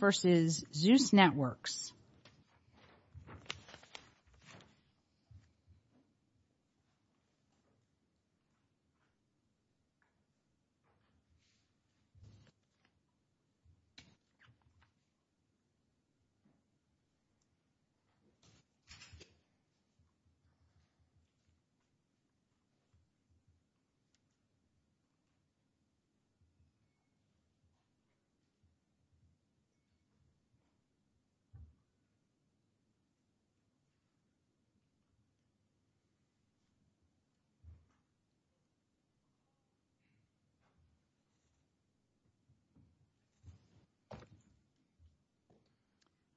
v. Zeus Networks, LLC v. Zeus Networks, LLC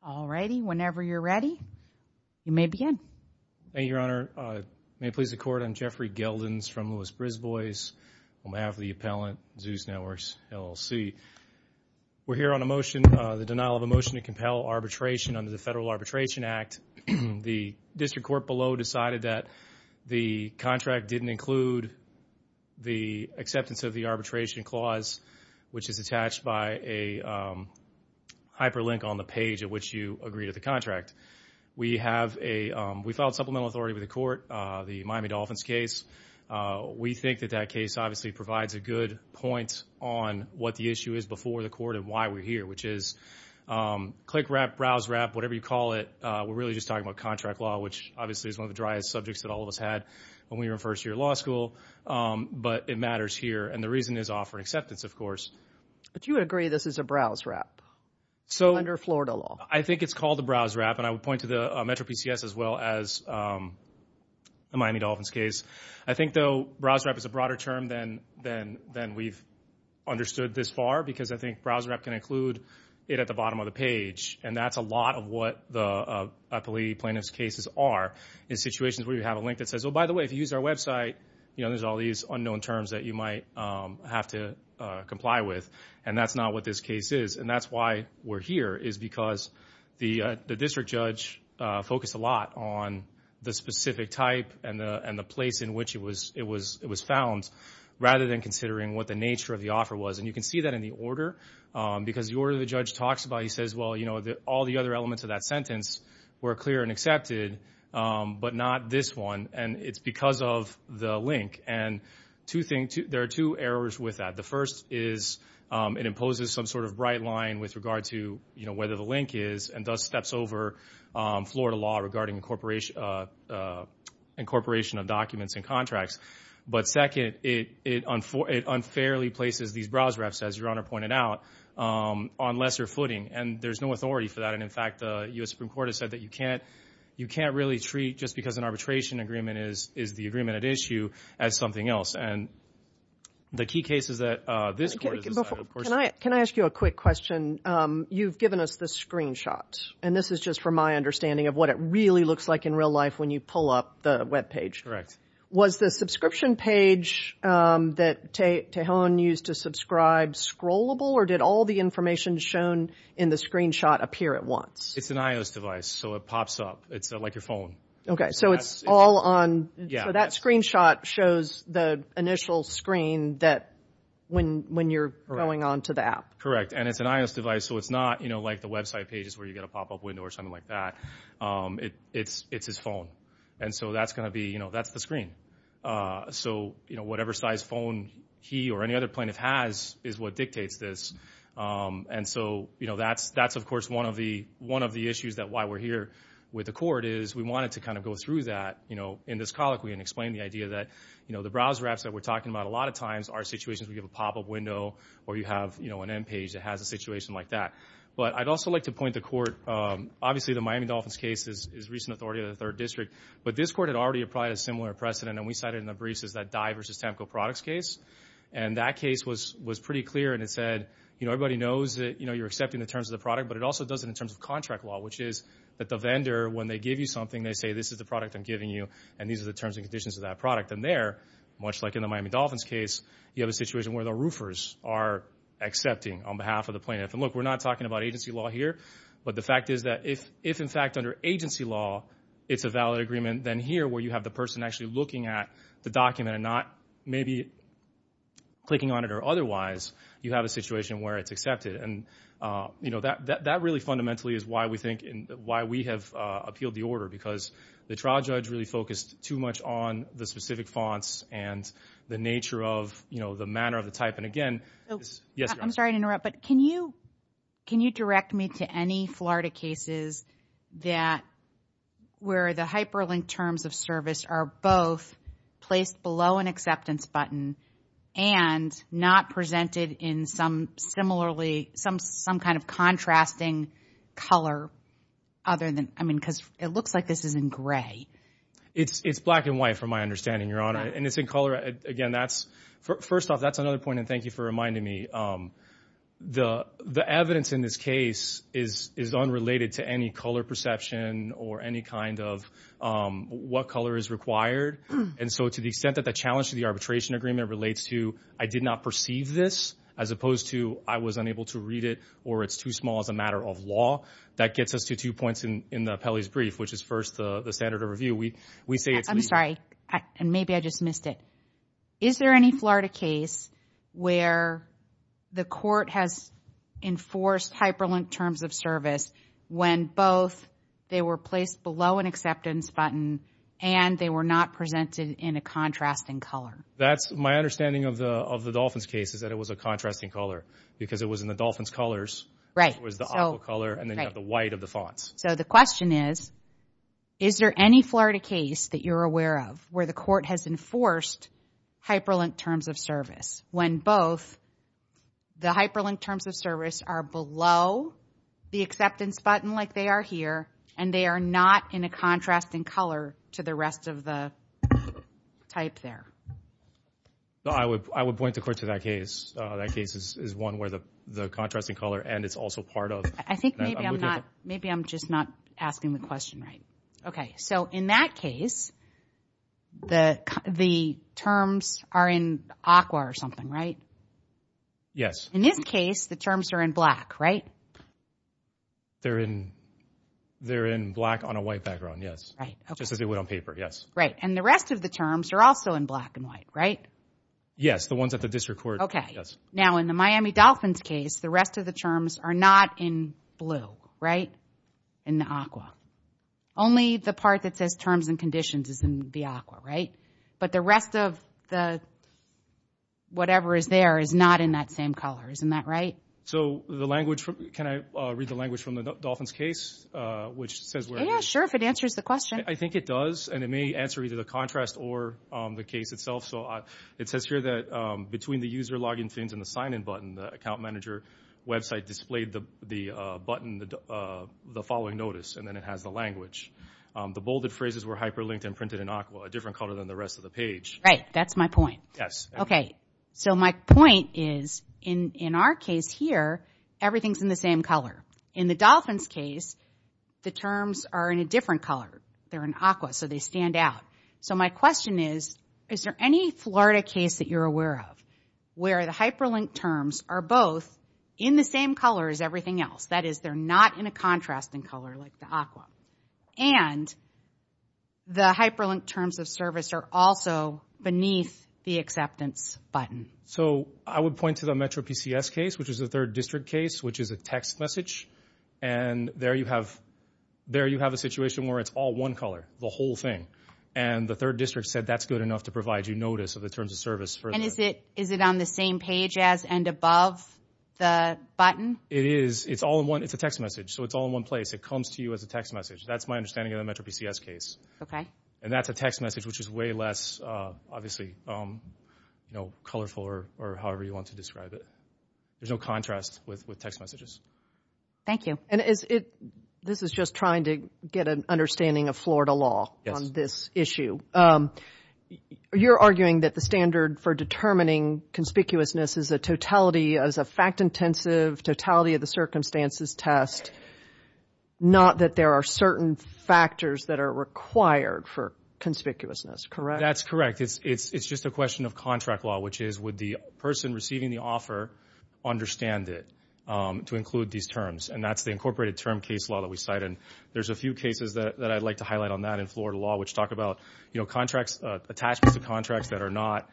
All righty, whenever you're ready, you may begin. Thank you, Your Honor. May it please the Court, I'm Jeffrey Geldins from Lewis-Brisbois. On behalf of the appellant, Zeus Networks, LLC. We're here on a motion, the denial of a motion to compel arbitration under the Federal Arbitration Act. The district court below decided that the contract didn't include the acceptance of the arbitration clause, which is attached by a hyperlink on the page at which you agree to the contract. We have a, we filed supplemental authority with the court, the Miami Dolphins case. We think that that case obviously provides a good point on what the issue is before the court and why we're here, which is click-wrap, browse-wrap, whatever you call it, we're really just talking about contract law, which obviously is one of the driest subjects that all of us had when we were in first year law school, but it matters here, and the reason is offering acceptance, of course. But you would agree this is a browse-wrap under Florida law? I think it's called a browse-wrap, and I would point to the MetroPCS as well as the Miami Dolphins case. I think, though, browse-wrap is a broader term than we've understood this far, because I think browse-wrap can include it at the bottom of the page, and that's a lot of what the plea plaintiff's cases are in situations where you have a link that says, oh, by the way, if you use our website, there's all these unknown terms that you might have to comply with, and that's not what this case is, and that's why we're here, is because the district judge focused a lot on the specific type and the place in which it was found, rather than considering what the nature of the offer was, and you can see that in the order, because the order the judge talks about, he says, well, all the other elements of that sentence were clear and accepted, but not this one, and it's because of the link, and there are two errors with that. The first is it imposes some sort of bright line with regard to whether the link is and thus steps over Florida law regarding incorporation of documents and contracts, but second, it unfairly places these browse-wraps, as Your Honor pointed out, on lesser footing, and there's no authority for that, and in fact, the U.S. Supreme Court has said that you can't really treat, just because an arbitration agreement is the agreement at issue, as something else, and the key cases that this Court has decided, of course... Can I ask you a quick question? You've given us this screenshot, and this is just from my understanding of what it really looks like in real life when you pull up the webpage. Was the subscription page that Tejon used to subscribe scrollable, or did all the information shown in the screenshot appear at once? It's an iOS device, so it pops up. It's like your phone. Okay, so it's all on... That screenshot shows the initial screen when you're going on to the app. Correct, and it's an iOS device, so it's not like the website pages where you get a pop-up window or something like that. It's his phone, and so that's the screen. So whatever size phone he or any other plaintiff has is what dictates this, and so that's of course one of the issues why we're here with the Court, is we wanted to kind of go through that in this colloquy and explain the idea that the browse-wraps that we're talking about a lot of times are situations where you have a pop-up window, or you have an in-page that has a situation like that. But I'd also like to point the Court, obviously the Miami Dolphins case is recent authority of the 3rd District, but this Court had already applied a similar precedent, and we cited in the briefs is that Dye vs. Temco products case, and that case was pretty clear, and it said, you know, everybody knows that you're accepting the terms of the product, but it also does it in terms of contract law, which is that the vendor, when they give you something, they say, this is the product I'm giving you, and these are the terms and conditions of that product, and there, much like in the Miami Dolphins case, you have a situation where the roofers are accepting on behalf of the plaintiff. And look, we're not talking about agency law here, but the fact is that if, in fact, under agency law it's a valid agreement, then here, where you have the person actually looking at the document and not maybe clicking on it or otherwise, you have a situation where it's accepted. And, you know, that really fundamentally is why we think, why we have appealed the order, because the trial judge really focused too much on the specific fonts and the nature of, you know, the manner of the type. And again, yes, Your Honor. I'm sorry to interrupt, but can you direct me to any Florida cases that, where the hyperlinked terms of service are both placed below an acceptance button and not presented in some similarly, some kind of contrasting color other than, I mean, because it looks like this is in gray. It's black and white from my understanding, Your Honor. And it's in color. Again, that's, first off, that's another point, and thank you for reminding me. The evidence in this case is unrelated to any color perception or any kind of what color is required. And so to the extent that the challenge to the arbitration agreement relates to, I did not perceive this, as opposed to I was unable to read it or it's too small as a matter of law, that gets us to two points in the appellee's brief, which is first the standard of review. We say it's legal. I'm sorry, and maybe I just missed it. Is there any Florida case where the court has enforced hyperlinked terms of service when both they were placed below an acceptance button and they were not presented in a contrasting color? That's my understanding of the Dolphins case is that it was a contrasting color because it was in the Dolphins colors. Right. It was the aqua color and then you have the white of the fonts. So the question is, is there any Florida case that you're aware of where the court has enforced hyperlinked terms of service when both the hyperlinked terms of service are below the acceptance button like they are here and they are not in a contrasting color to the rest of the type there? I would point the court to that case. That case is one where the contrasting color and it's also part of... I think maybe I'm just not asking the question right. So in that case, the terms are in aqua or something, right? Yes. In this case, the terms are in black, right? They're in black on a white background, yes. Just as they would on paper, yes. And the rest of the terms are also in black and white, right? Yes, the ones at the district court, yes. Now in the Miami Dolphins case, the rest of the terms are not in blue, right? In the aqua. Only the part that says terms and conditions is in the aqua, right? But the rest of the whatever is there is not in that same color. Isn't that right? Can I read the language from the Dolphins case? Sure, if it answers the question. I think it does and it may answer either the contrast or the case itself. It says here that between the user login and the sign in button, the account manager website displayed the button, the following notice, and then it has the language. The bolded phrases were hyperlinked and printed in aqua, a different color than the rest of the page. Right, that's my point. Yes. Okay, so my point is in our case here, everything's in the same color. In the Dolphins case, the terms are in a different color. They're in aqua, so they stand out. So my question is, is there any Florida case that you're aware of where the hyperlinked terms are both in the same color as everything else? That is, they're not in a contrasting color like the aqua. And the hyperlinked terms of service are also beneath the acceptance button. So I would point to the Metro PCS case, which is the third district case, which is a text message. And there you have a situation where it's all one color, the whole thing. And the third district said that's good enough to provide you notice of the terms of service. And is it on the same page as and above the button? It is. It's all in one. It's a text message. So it's all in one place. It comes to you as a text message. That's my understanding of the Metro PCS case. Okay. And that's a text message, which is way less, obviously, you know, colorful or however you want to describe it. There's no contrast with text messages. Thank you. This is just trying to get an understanding of Florida law on this issue. You're arguing that the standard for determining conspicuousness is a totality, is a fact-intensive totality of the circumstances test, not that there are certain factors that are required for conspicuousness, correct? That's correct. It's just a question of contract law, which is would the person receiving the offer understand it to include these terms? And that's the incorporated term case law that we cite. And there's a few cases that I'd like to highlight on that in Florida law, which talk about, you know, contracts, attachments to contracts that are not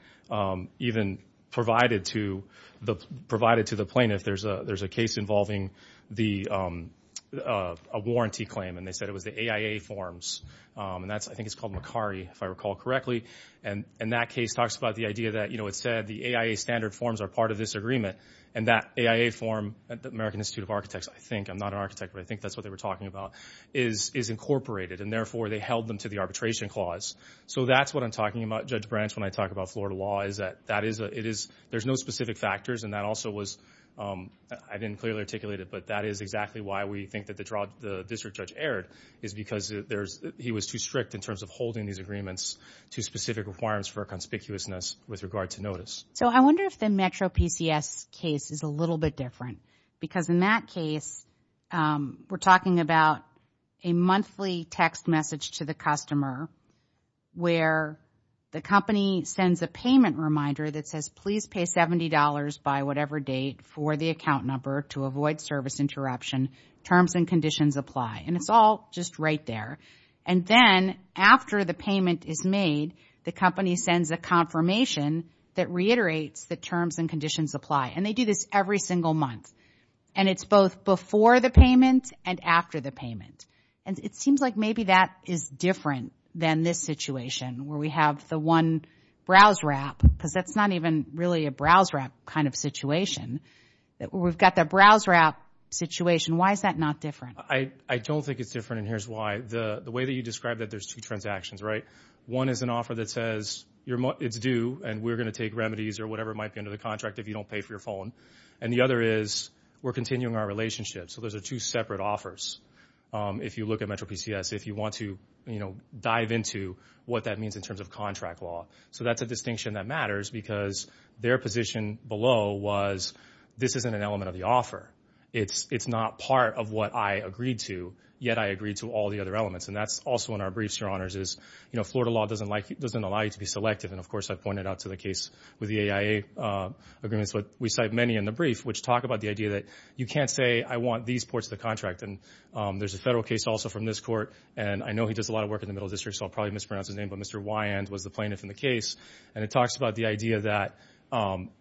even provided to the plaintiff. There's a case involving a warranty claim. And they said it was the AIA forms. I think it's called Macari, if I recall correctly. And that case talks about the idea that, you know, it said the AIA standard forms are part of this agreement. And that AIA form at the American Institute of Architects, I think, I'm not an architect, but I think that's what they were talking about, is incorporated. And therefore, they held them to the arbitration clause. So that's what I'm talking about, Judge Branch, when I talk about Florida law, is that there's no specific factors. And that also was, I didn't clearly articulate it, but that is exactly why we think that the district judge erred, is because he was too strict in terms of holding these agreements to specific requirements for conspicuousness with regard to notice. So I wonder if the Metro PCS case is a little bit different. Because in that case, we're talking about a monthly text message to the customer where the company sends a payment reminder that says, please pay $70 by whatever date for the account number to avoid service interruption. Terms and conditions apply. And it's all just right there. And then after the payment is made, the company sends a confirmation that reiterates that terms and conditions apply. And they do this every single month. And it's both before the payment and after the payment. And it seems like maybe that is different than this situation where we have the one BrowseRap, because that's not even really a BrowseRap kind of situation. We've got the BrowseRap situation. Why is that not different? I don't think it's different, and here's why. The way that you describe that, there's two transactions, right? One is an offer that says it's due, and we're going to take remedies or whatever might be under the contract if you don't pay for your phone. And the other is we're continuing our relationship. So those are two separate offers. If you look at MetroPCS, if you want to dive into what that means in terms of contract law. So that's a distinction that matters, because their position below was this isn't an element of the offer. It's not part of what I agreed to, yet I agreed to all the other elements. And that's also in our briefs, Your Honors, is Florida law doesn't allow you to be selective. And of course, I've pointed out to the case with the AIA agreements, but we cite many in the brief which talk about the idea that you can't say, I want these ports of the contract. And there's a federal case also from this court, and I know he does a lot of work in the Middle District, so I'll probably mispronounce his name, but Mr. Wyand was the plaintiff in the case. And it talks about the idea that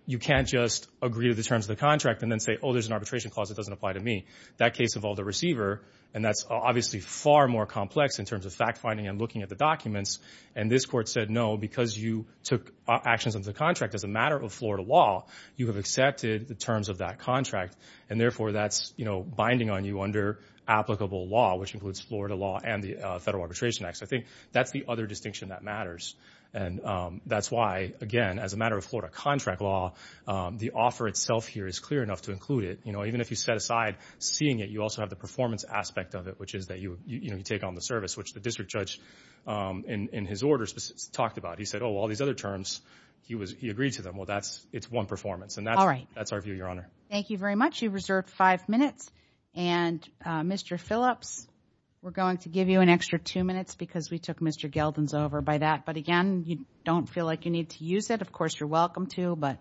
you can't just agree to the terms of the contract and then say, oh, there's an arbitration clause that doesn't apply to me. That case involved a receiver, and that's obviously far more complex in terms of fact-finding and looking at the documents. And this court said, no, because you took actions under the contract as a matter of Florida law, you have accepted the terms of that contract, and therefore that's binding on you under applicable law, which includes Florida law and the Federal Arbitration Act. So I think that's the other distinction that matters. And that's why, again, as a matter of Florida contract law, the offer itself here is clear enough to include it. Even if you set aside seeing it, you also have the performance aspect of it, which is that you take on the service, which the district judge in his orders talked about. He said, oh, well, all these other terms, he agreed to them. Well, it's one performance. And that's our view, Your Honor. Thank you very much. You've reserved five minutes. And Mr. Phillips, we're going to give you an extra two minutes because we took Mr. Gelden's over by that. But again, you don't feel like you need to use it. Of course, you're welcome to, but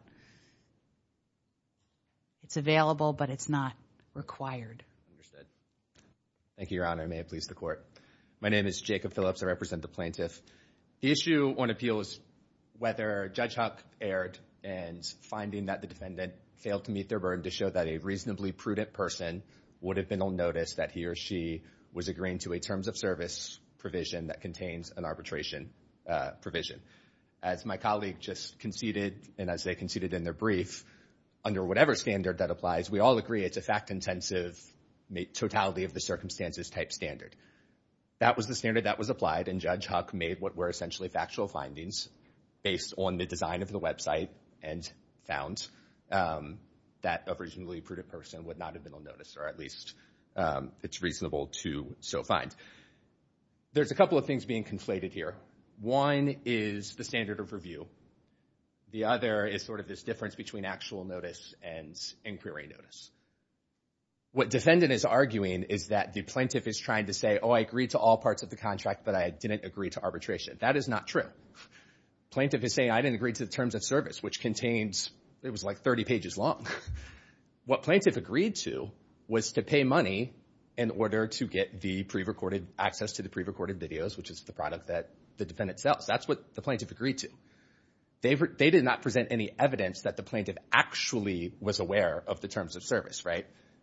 it's available, but it's not required. Thank you, Your Honor. I may have pleased the court. My name is Jacob Phillips. I represent the plaintiff. The issue on appeal is whether Judge Huck erred and finding that the defendant failed to meet their burden to show that a reasonably prudent person would have been on notice that he or she was agreeing to a terms of service provision that contains an arbitration provision. As my colleague just conceded, and as they conceded in their brief, under whatever standard that applies, we all agree it's a fact-intensive, totality of the circumstances type standard. That was the standard that was applied, and Judge Huck made what were essentially factual findings based on the design of the website and found that a reasonably prudent person would not have been on notice, or at least it's reasonable to so find. There's a couple of things being conflated here. One is the standard of review. The other is sort of this difference between actual notice and inquiry notice. What defendant is arguing is that the plaintiff is trying to say, oh, I agreed to all parts of the contract, but I didn't agree to arbitration. That is not true. Plaintiff is saying, I didn't agree to the terms of service, which contains it was like 30 pages long. What plaintiff agreed to was to pay money in order to get the pre-recorded access to the pre-recorded videos, which is the product that the defendant sells. That's what the plaintiff agreed to. They did not present any evidence that the plaintiff actually was aware of the terms of service.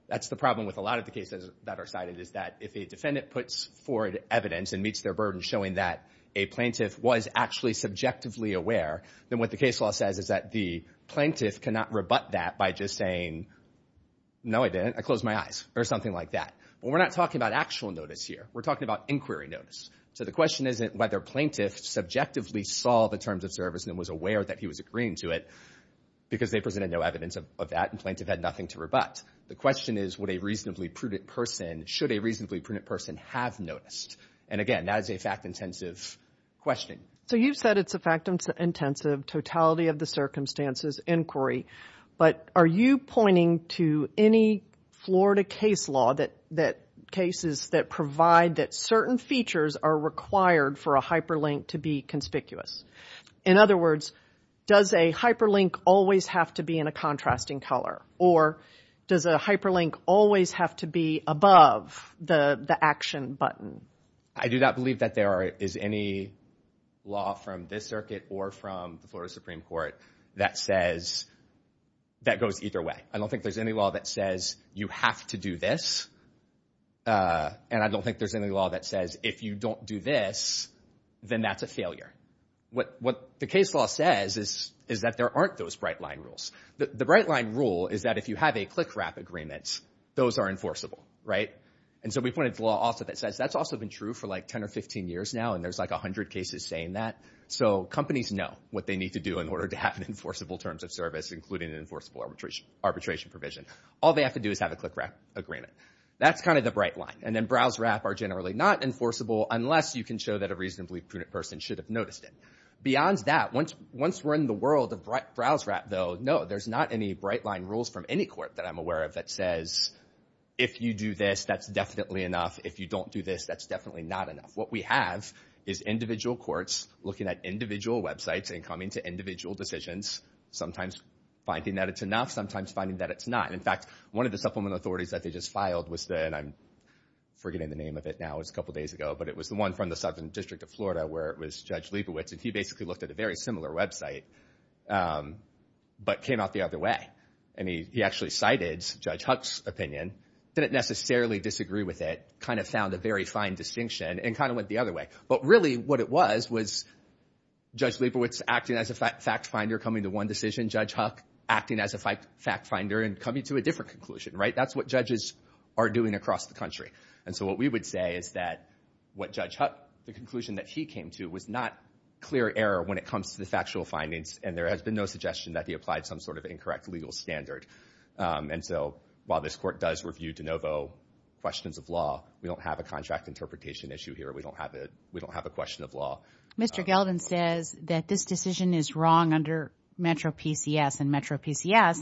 That's the problem with a lot of the cases that are cited, is that if a defendant puts forward evidence and meets their burden showing that a plaintiff was actually subjectively aware, then what the case law says is that the plaintiff cannot rebut that by just saying, no, I didn't. I closed my eyes, or something like that. We're not talking about actual notice here. We're talking about inquiry notice. The question isn't whether plaintiff subjectively saw the terms of service and was aware that he was agreeing to it because they presented no evidence of that and plaintiff had nothing to rebut. The question is would a reasonably prudent person, should a reasonably prudent person have noticed? And again, that is a fact-intensive question. So you've said it's a fact-intensive, totality-of-the-circumstances inquiry, but are you pointing to any Florida case law that cases that provide that certain features are required for a hyperlink to be conspicuous? In other words, does a hyperlink always have to be in a contrasting color? Or does a hyperlink always have to be above the action button? I do not believe that there is any law from this circuit or from the Florida Supreme Court that says that goes either way. I don't think there's any law that says you have to do this, and I don't think there's any law that says if you don't do this, then that's a failure. What the case law says is that there aren't those bright-line rules. The bright-line rule is that if you have a click-wrap agreement, those are enforceable, right? And so we pointed to law also that says that's also been true for like 10 or 15 years now, and there's like 100 cases saying that. So companies know what they need to do in order to have enforceable terms of service, including an enforceable arbitration provision. All they have to do is have a click-wrap agreement. That's kind of the bright-line. And then browse-wrap are generally not enforceable unless you can show that a reasonably prudent person should have noticed it. Beyond that, once we're in the world of browse-wrap, though, no, there's not any bright-line rules from any court that I'm aware of that says if you do this, that's definitely enough. If you don't do this, that's definitely not enough. What we have is individual courts looking at individual websites and coming to individual decisions, sometimes finding that it's enough, sometimes finding that it's not. In fact, one of the supplement authorities that they just filed was the, and I'm forgetting the name of it now, it was a couple days ago, but it was the one from the Southern District of Florida where it was Judge Leibovitz and he basically looked at a very similar website, but came out the other way. And he actually cited Judge Huck's opinion, didn't necessarily disagree with it, kind of found a very fine distinction, and kind of went the other way. But really what it was, was Judge Leibovitz acting as a fact-finder coming to one decision, Judge Huck acting as a fact-finder and coming to a different conclusion, right? That's what judges are doing across the country. And so what we would say is that what Judge Huck, the conclusion that he came to was not clear error when it comes to the factual findings and there has been no suggestion that he applied some sort of incorrect legal standard. And so while this court does review de novo questions of law, we don't have a contract interpretation issue here, we don't have a question of law. Mr. Gelden says that this decision is wrong under Metro PCS and Metro PCS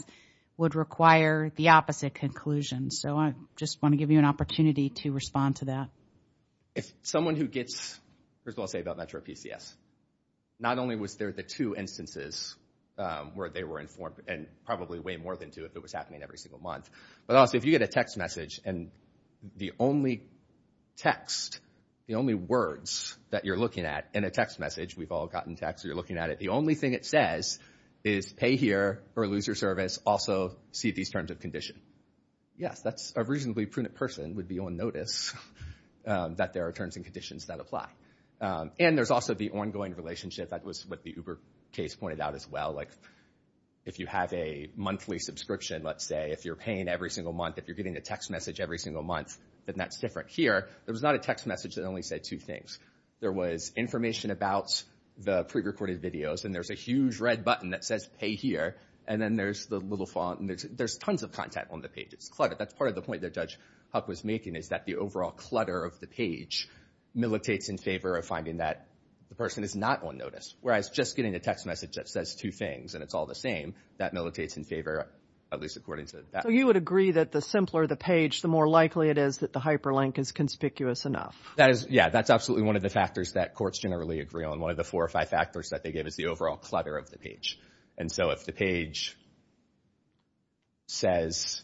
would require the opposite conclusion. So I just want to give you an opportunity to respond to that. If someone who gets, first of all I'll say about Metro PCS, not only was there the two instances where they were informed and probably way more than two if it was happening every single month, but also if you get a text message and the only text, the only words that you're looking at in a text message, we've all gotten text, you're looking at it, the only thing it says is pay here or lose your service, also see these terms of condition. Yes, that's a reasonably prudent person would be on notice that there are terms and conditions that apply. And there's also the ongoing relationship that was what the Uber case pointed out as well, like if you have a monthly subscription, let's say, if you're paying every single month, if you're getting a text message every single month, then that's different. Here, there was not a text message that only said two things. There was information about the prerecorded videos and there's a huge red button that says pay here and then there's the little font and there's tons of content on the page. It's cluttered. That's part of the point that Judge Huck was making is that the overall clutter of the page militates in favor of finding that the person is not on notice, whereas just getting a text message that says two things and it's all the same, that militates in favor, at least according to that. So you would agree that the simpler the page, the more likely it is that the hyperlink is conspicuous enough? Yeah, that's absolutely one of the factors that courts generally agree on. One of the four or five factors that they give is the overall clutter of the page. And so if the page says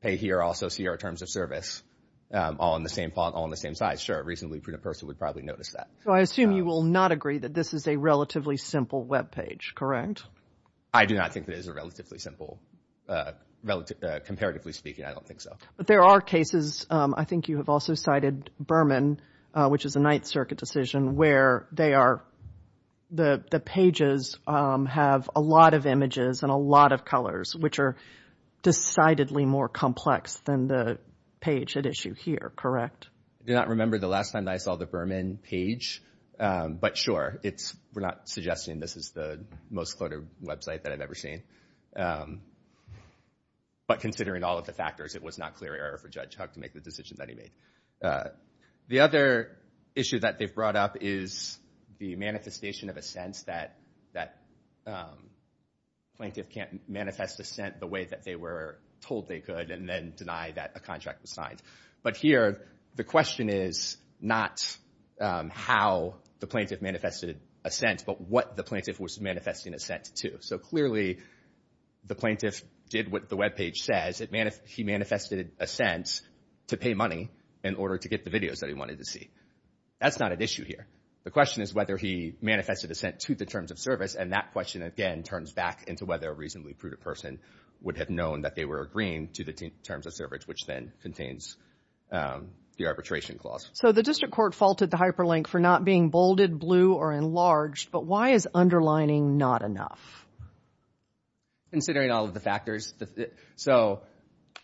pay here, also see our terms of service all on the same font, all on the same side, sure, reasonably prudent person would probably notice that. So I assume you will not agree that this is a relatively simple webpage, correct? I do not think that it is a relatively simple, comparatively speaking, I don't think so. But there are cases, I think you have also cited Berman, which is a Ninth Circuit decision, where they are, the pages have a lot of images and a lot of colors, which are decidedly more complex than the page at issue here, correct? I do not remember the last time that I saw the Berman page, but sure, we're not suggesting this is the most cluttered website that I've ever seen. But considering all of the factors, it was not clear error for Judge Huck to make the decision that he made. The other issue that they've brought up is the manifestation of assent that plaintiff can't manifest assent the way that they were told they could, and then deny that a contract was signed. But here, the question is not how the plaintiff manifested assent, but what the plaintiff was manifesting assent to. So clearly, the plaintiff did what the webpage says, he manifested assent to pay money in order to get the videos that he wanted to see. That's not at issue here. The question is whether he manifested assent to the terms of service, and that question again turns back into whether a reasonably prudent person would have known that they were agreeing to the terms of service, which then contains the arbitration clause. So the District Court faulted the hyperlink for not being bolded, blue, or enlarged, but why is underlining not enough? Considering all of the factors, so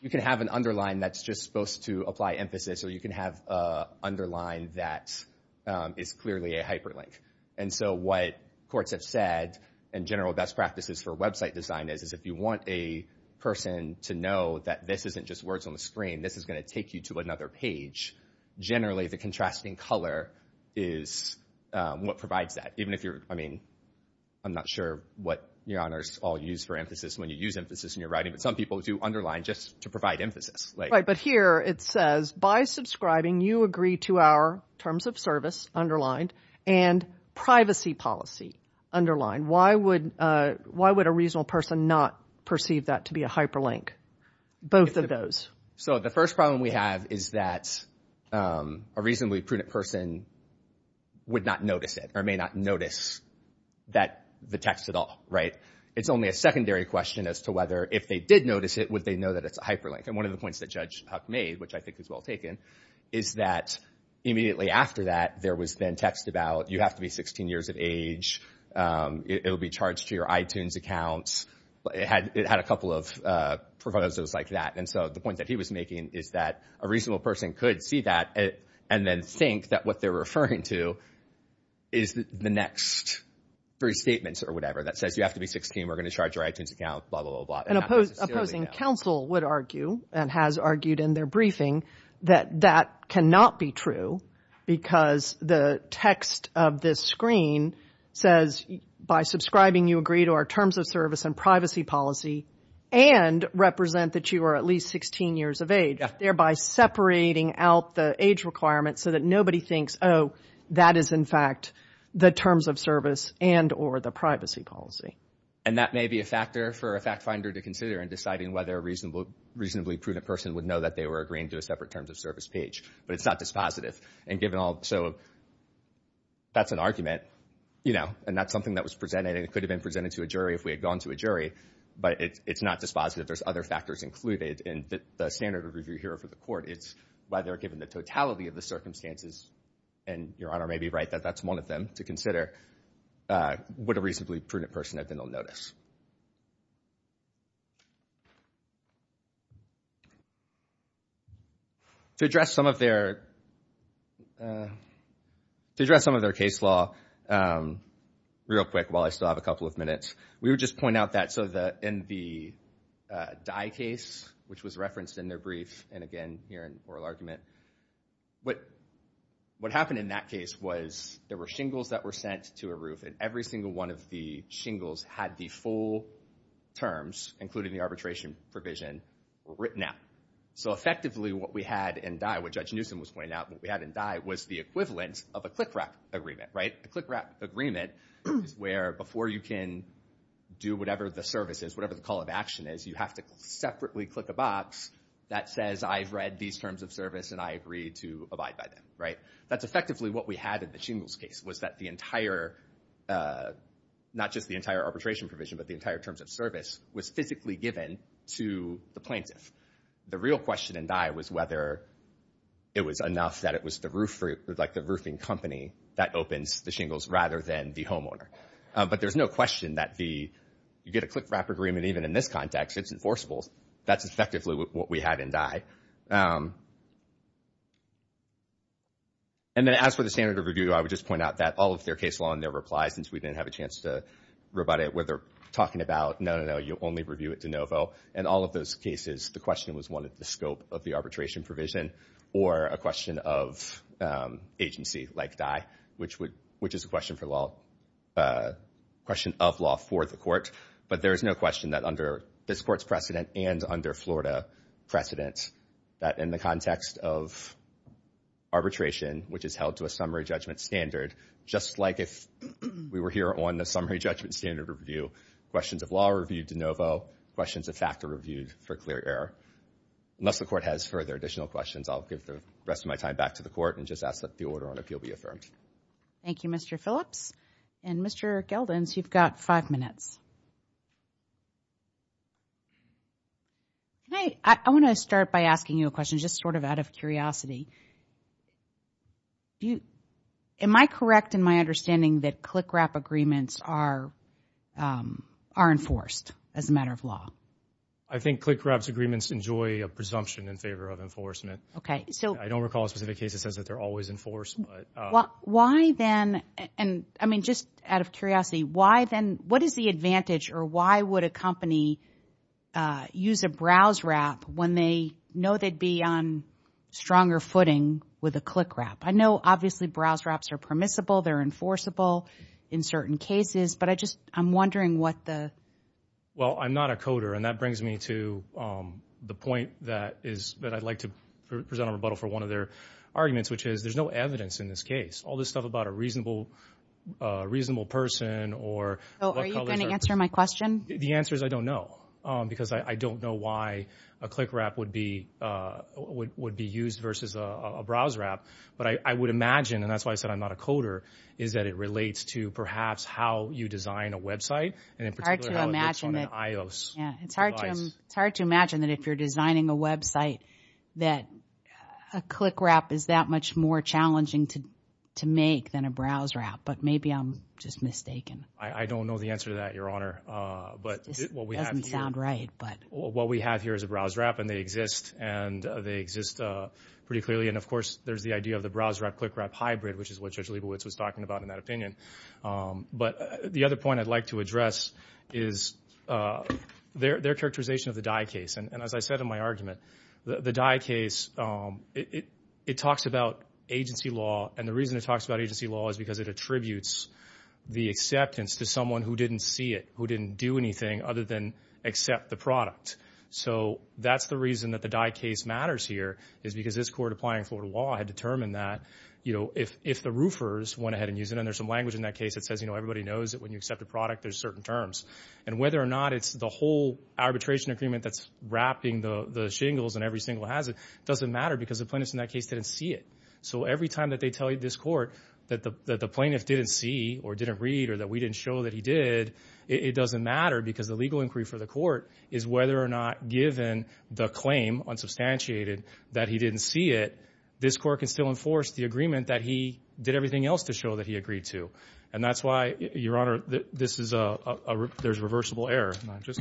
you can have an underline that's just supposed to apply emphasis, or you can have an underline that is clearly a hyperlink. And so what courts have said, and general best practices for website design is, is if you want a person to know that this isn't just words on the screen, this is going to take you to another page, generally the contrasting color is what provides that. Even if you're, I mean, I'm not sure what your honors all use for emphasis when you use emphasis in your writing, but some people do underline just to provide emphasis. Right, but here it says, by subscribing, you agree to our terms of service, underlined, and privacy policy, underlined. Why would a reasonable person not perceive that to be a hyperlink? Both of those. So the first problem we have is that a reasonably prudent person would not notice it, or may not notice the text at all, right? It's only a secondary question as to whether, if they did notice it, would they know that it's a hyperlink. And one of the points that Judge Huck made, which I think is well taken, is that immediately after that, there was then text about, you have to be 16 years of age, it'll be charged to your iTunes account, it had a couple of proposals like that. And so the point that he was making is that a reasonable person could see that and then think that what they're referring to is the next three statements or whatever that says you have to be 16, we're going to charge your iTunes account, blah, blah, blah. An opposing counsel would argue, and has argued in their briefing, that that cannot be true, because the text of this screen says, by subscribing, you agree to our terms of service and privacy policy, and represent that you are at least 16 years of age, thereby separating out the age requirements so that nobody thinks, oh, that is in fact the terms of service and or the privacy policy. And that may be a factor for a fact finder to consider in deciding whether a reasonably prudent person would know that they were agreeing to a separate terms of service page. But it's not dispositive. And given all so, that's an argument, you know, and that's something that was presented, and it could have been presented to a jury if we had gone to a jury, but it's not dispositive. There's other factors included in the standard of review here for the court. It's whether, given the totality of the circumstances, and Your Honor may be right that that's one of them to consider, would a reasonably prudent person have been on notice. To address some of their case law real quick, while I still have a couple of minutes, we would just point out that in the Dye case, which was referenced in their brief, and again, here in oral argument, what happened in that case was there were shingles that were sent to a roof, and every single one of the shingles had the full terms, including the arbitration provision, written out. So effectively what we had in Dye, what Judge Newsom was pointing out, what we had in Dye was the equivalent of a click wrap agreement, right? A click wrap agreement is where before you can do whatever the service is, whatever the call of action is, you have to separately click a box that says I've read these terms of service and I agree to abide by them, right? That's effectively what we had in the shingles case was that the entire, not just the entire arbitration provision but the entire terms of service was physically given to the plaintiff. The real question in Dye was whether it was enough that it was the roofing company that opens the shingles rather than the homeowner. But there's no question that the, you get a click wrap agreement even in this context, it's enforceable. That's effectively what we had in Dye. And then as for the standard of review, I would just point out that all of their case law and their replies, since we didn't have a chance to rebut it, where they're talking about no, no, no, you only review it de novo and all of those cases, the question was one of the scope of the arbitration provision or a question of agency like Dye which is a question for law, a question of law for the court. But there is no question that under this court's precedent and under Florida precedent that in the context of arbitration, which is held to a summary judgment standard, just like if we were here on the summary judgment standard review, questions of law reviewed de novo, questions of fact are reviewed for clear error. Unless the court has further additional questions, I'll give the rest of my time back to the court and just ask that the order on appeal be affirmed. Thank you, Mr. Phillips. And Mr. Geldins, you've got five minutes. I want to start by asking you a question, just sort of out of curiosity. Am I correct in my understanding that CLCCRAP agreements are enforced as a matter of law? I think CLCCRAP's agreements enjoy a presumption in favor of enforcement. I don't recall a specific case that says that they're always enforced. Why then, and I mean just out of curiosity, why then, what is the advantage or why would a company use a browse wrap when they know they'd be on stronger footing with a CLCCRAP? I know obviously browse wraps are permissible, they're enforceable in certain cases, but I'm wondering what the... Well, I'm not a coder and that brings me to the point that I'd like to present on rebuttal for one of their arguments, which is there's no evidence in this case. All this stuff about a reasonable person or... So are you going to answer my question? The answer is I don't know, because I don't know why a CLCCRAP would be used versus a browse wrap, but I would imagine, and that's why I said I'm not a coder, is that it relates to perhaps how you design a website and in particular how it works on an iOS device. It's hard to imagine that if you're designing a website that a CLCCRAP is that much more challenging to make than a browse wrap, but maybe I'm just mistaken. I don't know the answer to that, Your Honor. This doesn't sound right. What we have here is a browse wrap and they exist pretty clearly, and of course there's the idea of the browse wrap-CLCCRAP hybrid, which is what Judge Leibowitz was talking about in that opinion. But the other point I'd like to address is their characterization of the DIE case and as I said in my argument, the DIE case it talks about agency law and the reason it talks about agency law is because it contributes the acceptance to someone who didn't see it, who didn't do anything other than accept the product. So that's the reason that the DIE case matters here is because this Court applying for law had determined that if the roofers went ahead and used it, and there's some language in that case that says everybody knows that when you accept a product there's certain terms, and whether or not it's the whole arbitration agreement that's wrapping the shingles and every single hazard doesn't matter because the plaintiffs in that case didn't see it. So every time that they deployed this Court that the plaintiff didn't see or didn't read or that we didn't show that he did, it doesn't matter because the legal inquiry for the Court is whether or not given the claim, unsubstantiated, that he didn't see it, this Court can still enforce the agreement that he did everything else to show that he agreed to. And that's why, Your Honor, this is a there's reversible error. And I just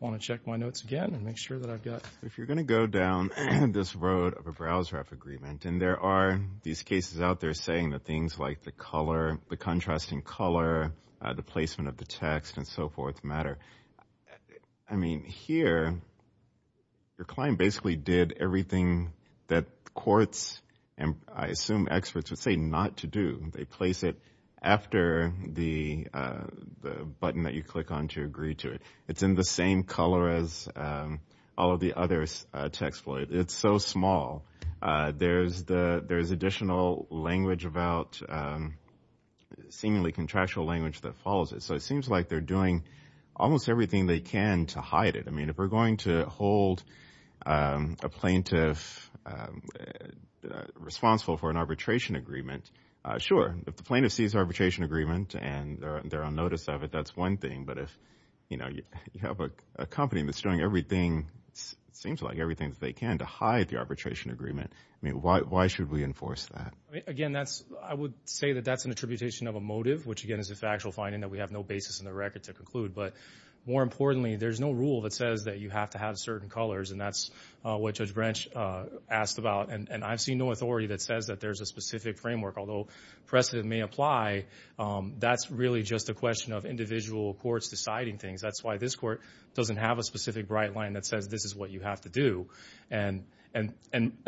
want to check my notes again and make sure that I've got... If you're going to go down this road of a browse wrap agreement and there are these cases out there saying that things like the color, the contrasting color, the placement of the text and so forth matter. I mean, here, your client basically did everything that Courts and I assume experts would say not to do. They place it after the button that you click on to agree to it. It's in the same color as all of the other text floyd. It's so small. There's additional language about seemingly contractual language that follows it. So it seems like they're doing almost everything they can to hide it. I mean, if we're going to hold a plaintiff responsible for an arbitration agreement, sure. If the plaintiff sees arbitration agreement and they're on notice of it, that's one thing. But if you have a company that's doing everything it seems like everything that they can to hide the arbitration agreement, why should we enforce that? Again, I would say that that's an attribution of a motive, which again is a factual finding that we have no basis in the record to conclude. More importantly, there's no rule that says that you have to have certain colors and that's what Judge Branch asked about. And I've seen no authority that says that there's a specific framework. Although precedent may apply, that's really just a question of individual Courts deciding things. That's why this Court doesn't have a specific bright line that says this is what you have to do. And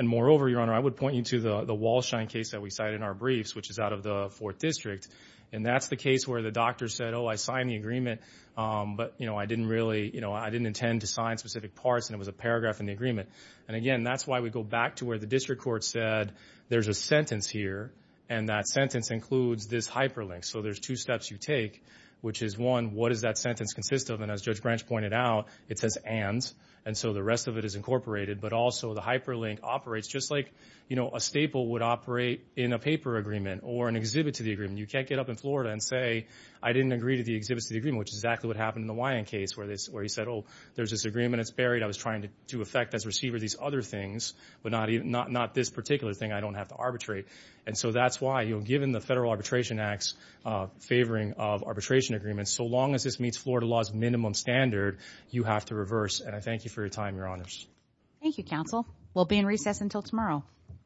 moreover, Your Honor, I would point you to the Walshine case that we cited in our briefs, which is out of the Fourth District. And that's the case where the doctor said, oh, I signed the agreement, but I didn't really, I didn't intend to sign specific parts and it was a paragraph in the agreement. And again, that's why we go back to where the District Court said, there's a sentence here and that sentence includes this hyperlink. So there's two steps you take, which is one, what does that sentence consist of? And as Judge Branch pointed out, it says and. And so the rest of it is incorporated, but also the hyperlink operates just like a staple would operate in a paper agreement or an exhibit to the agreement. You can't get up in Florida and say, I didn't agree to the exhibits to the agreement, which is exactly what happened in the Wyand case where he said, oh, there's this agreement, it's buried, I was trying to do effect as receiver of these other things, but not this particular thing I don't have to arbitrate. And so that's why, given the Federal Arbitration Act's favoring of arbitration agreements, so long as this meets Florida law's minimum standard, you have to reverse. And I thank you for your time, Your Honors. Thank you, Counsel. We'll be in recess until tomorrow.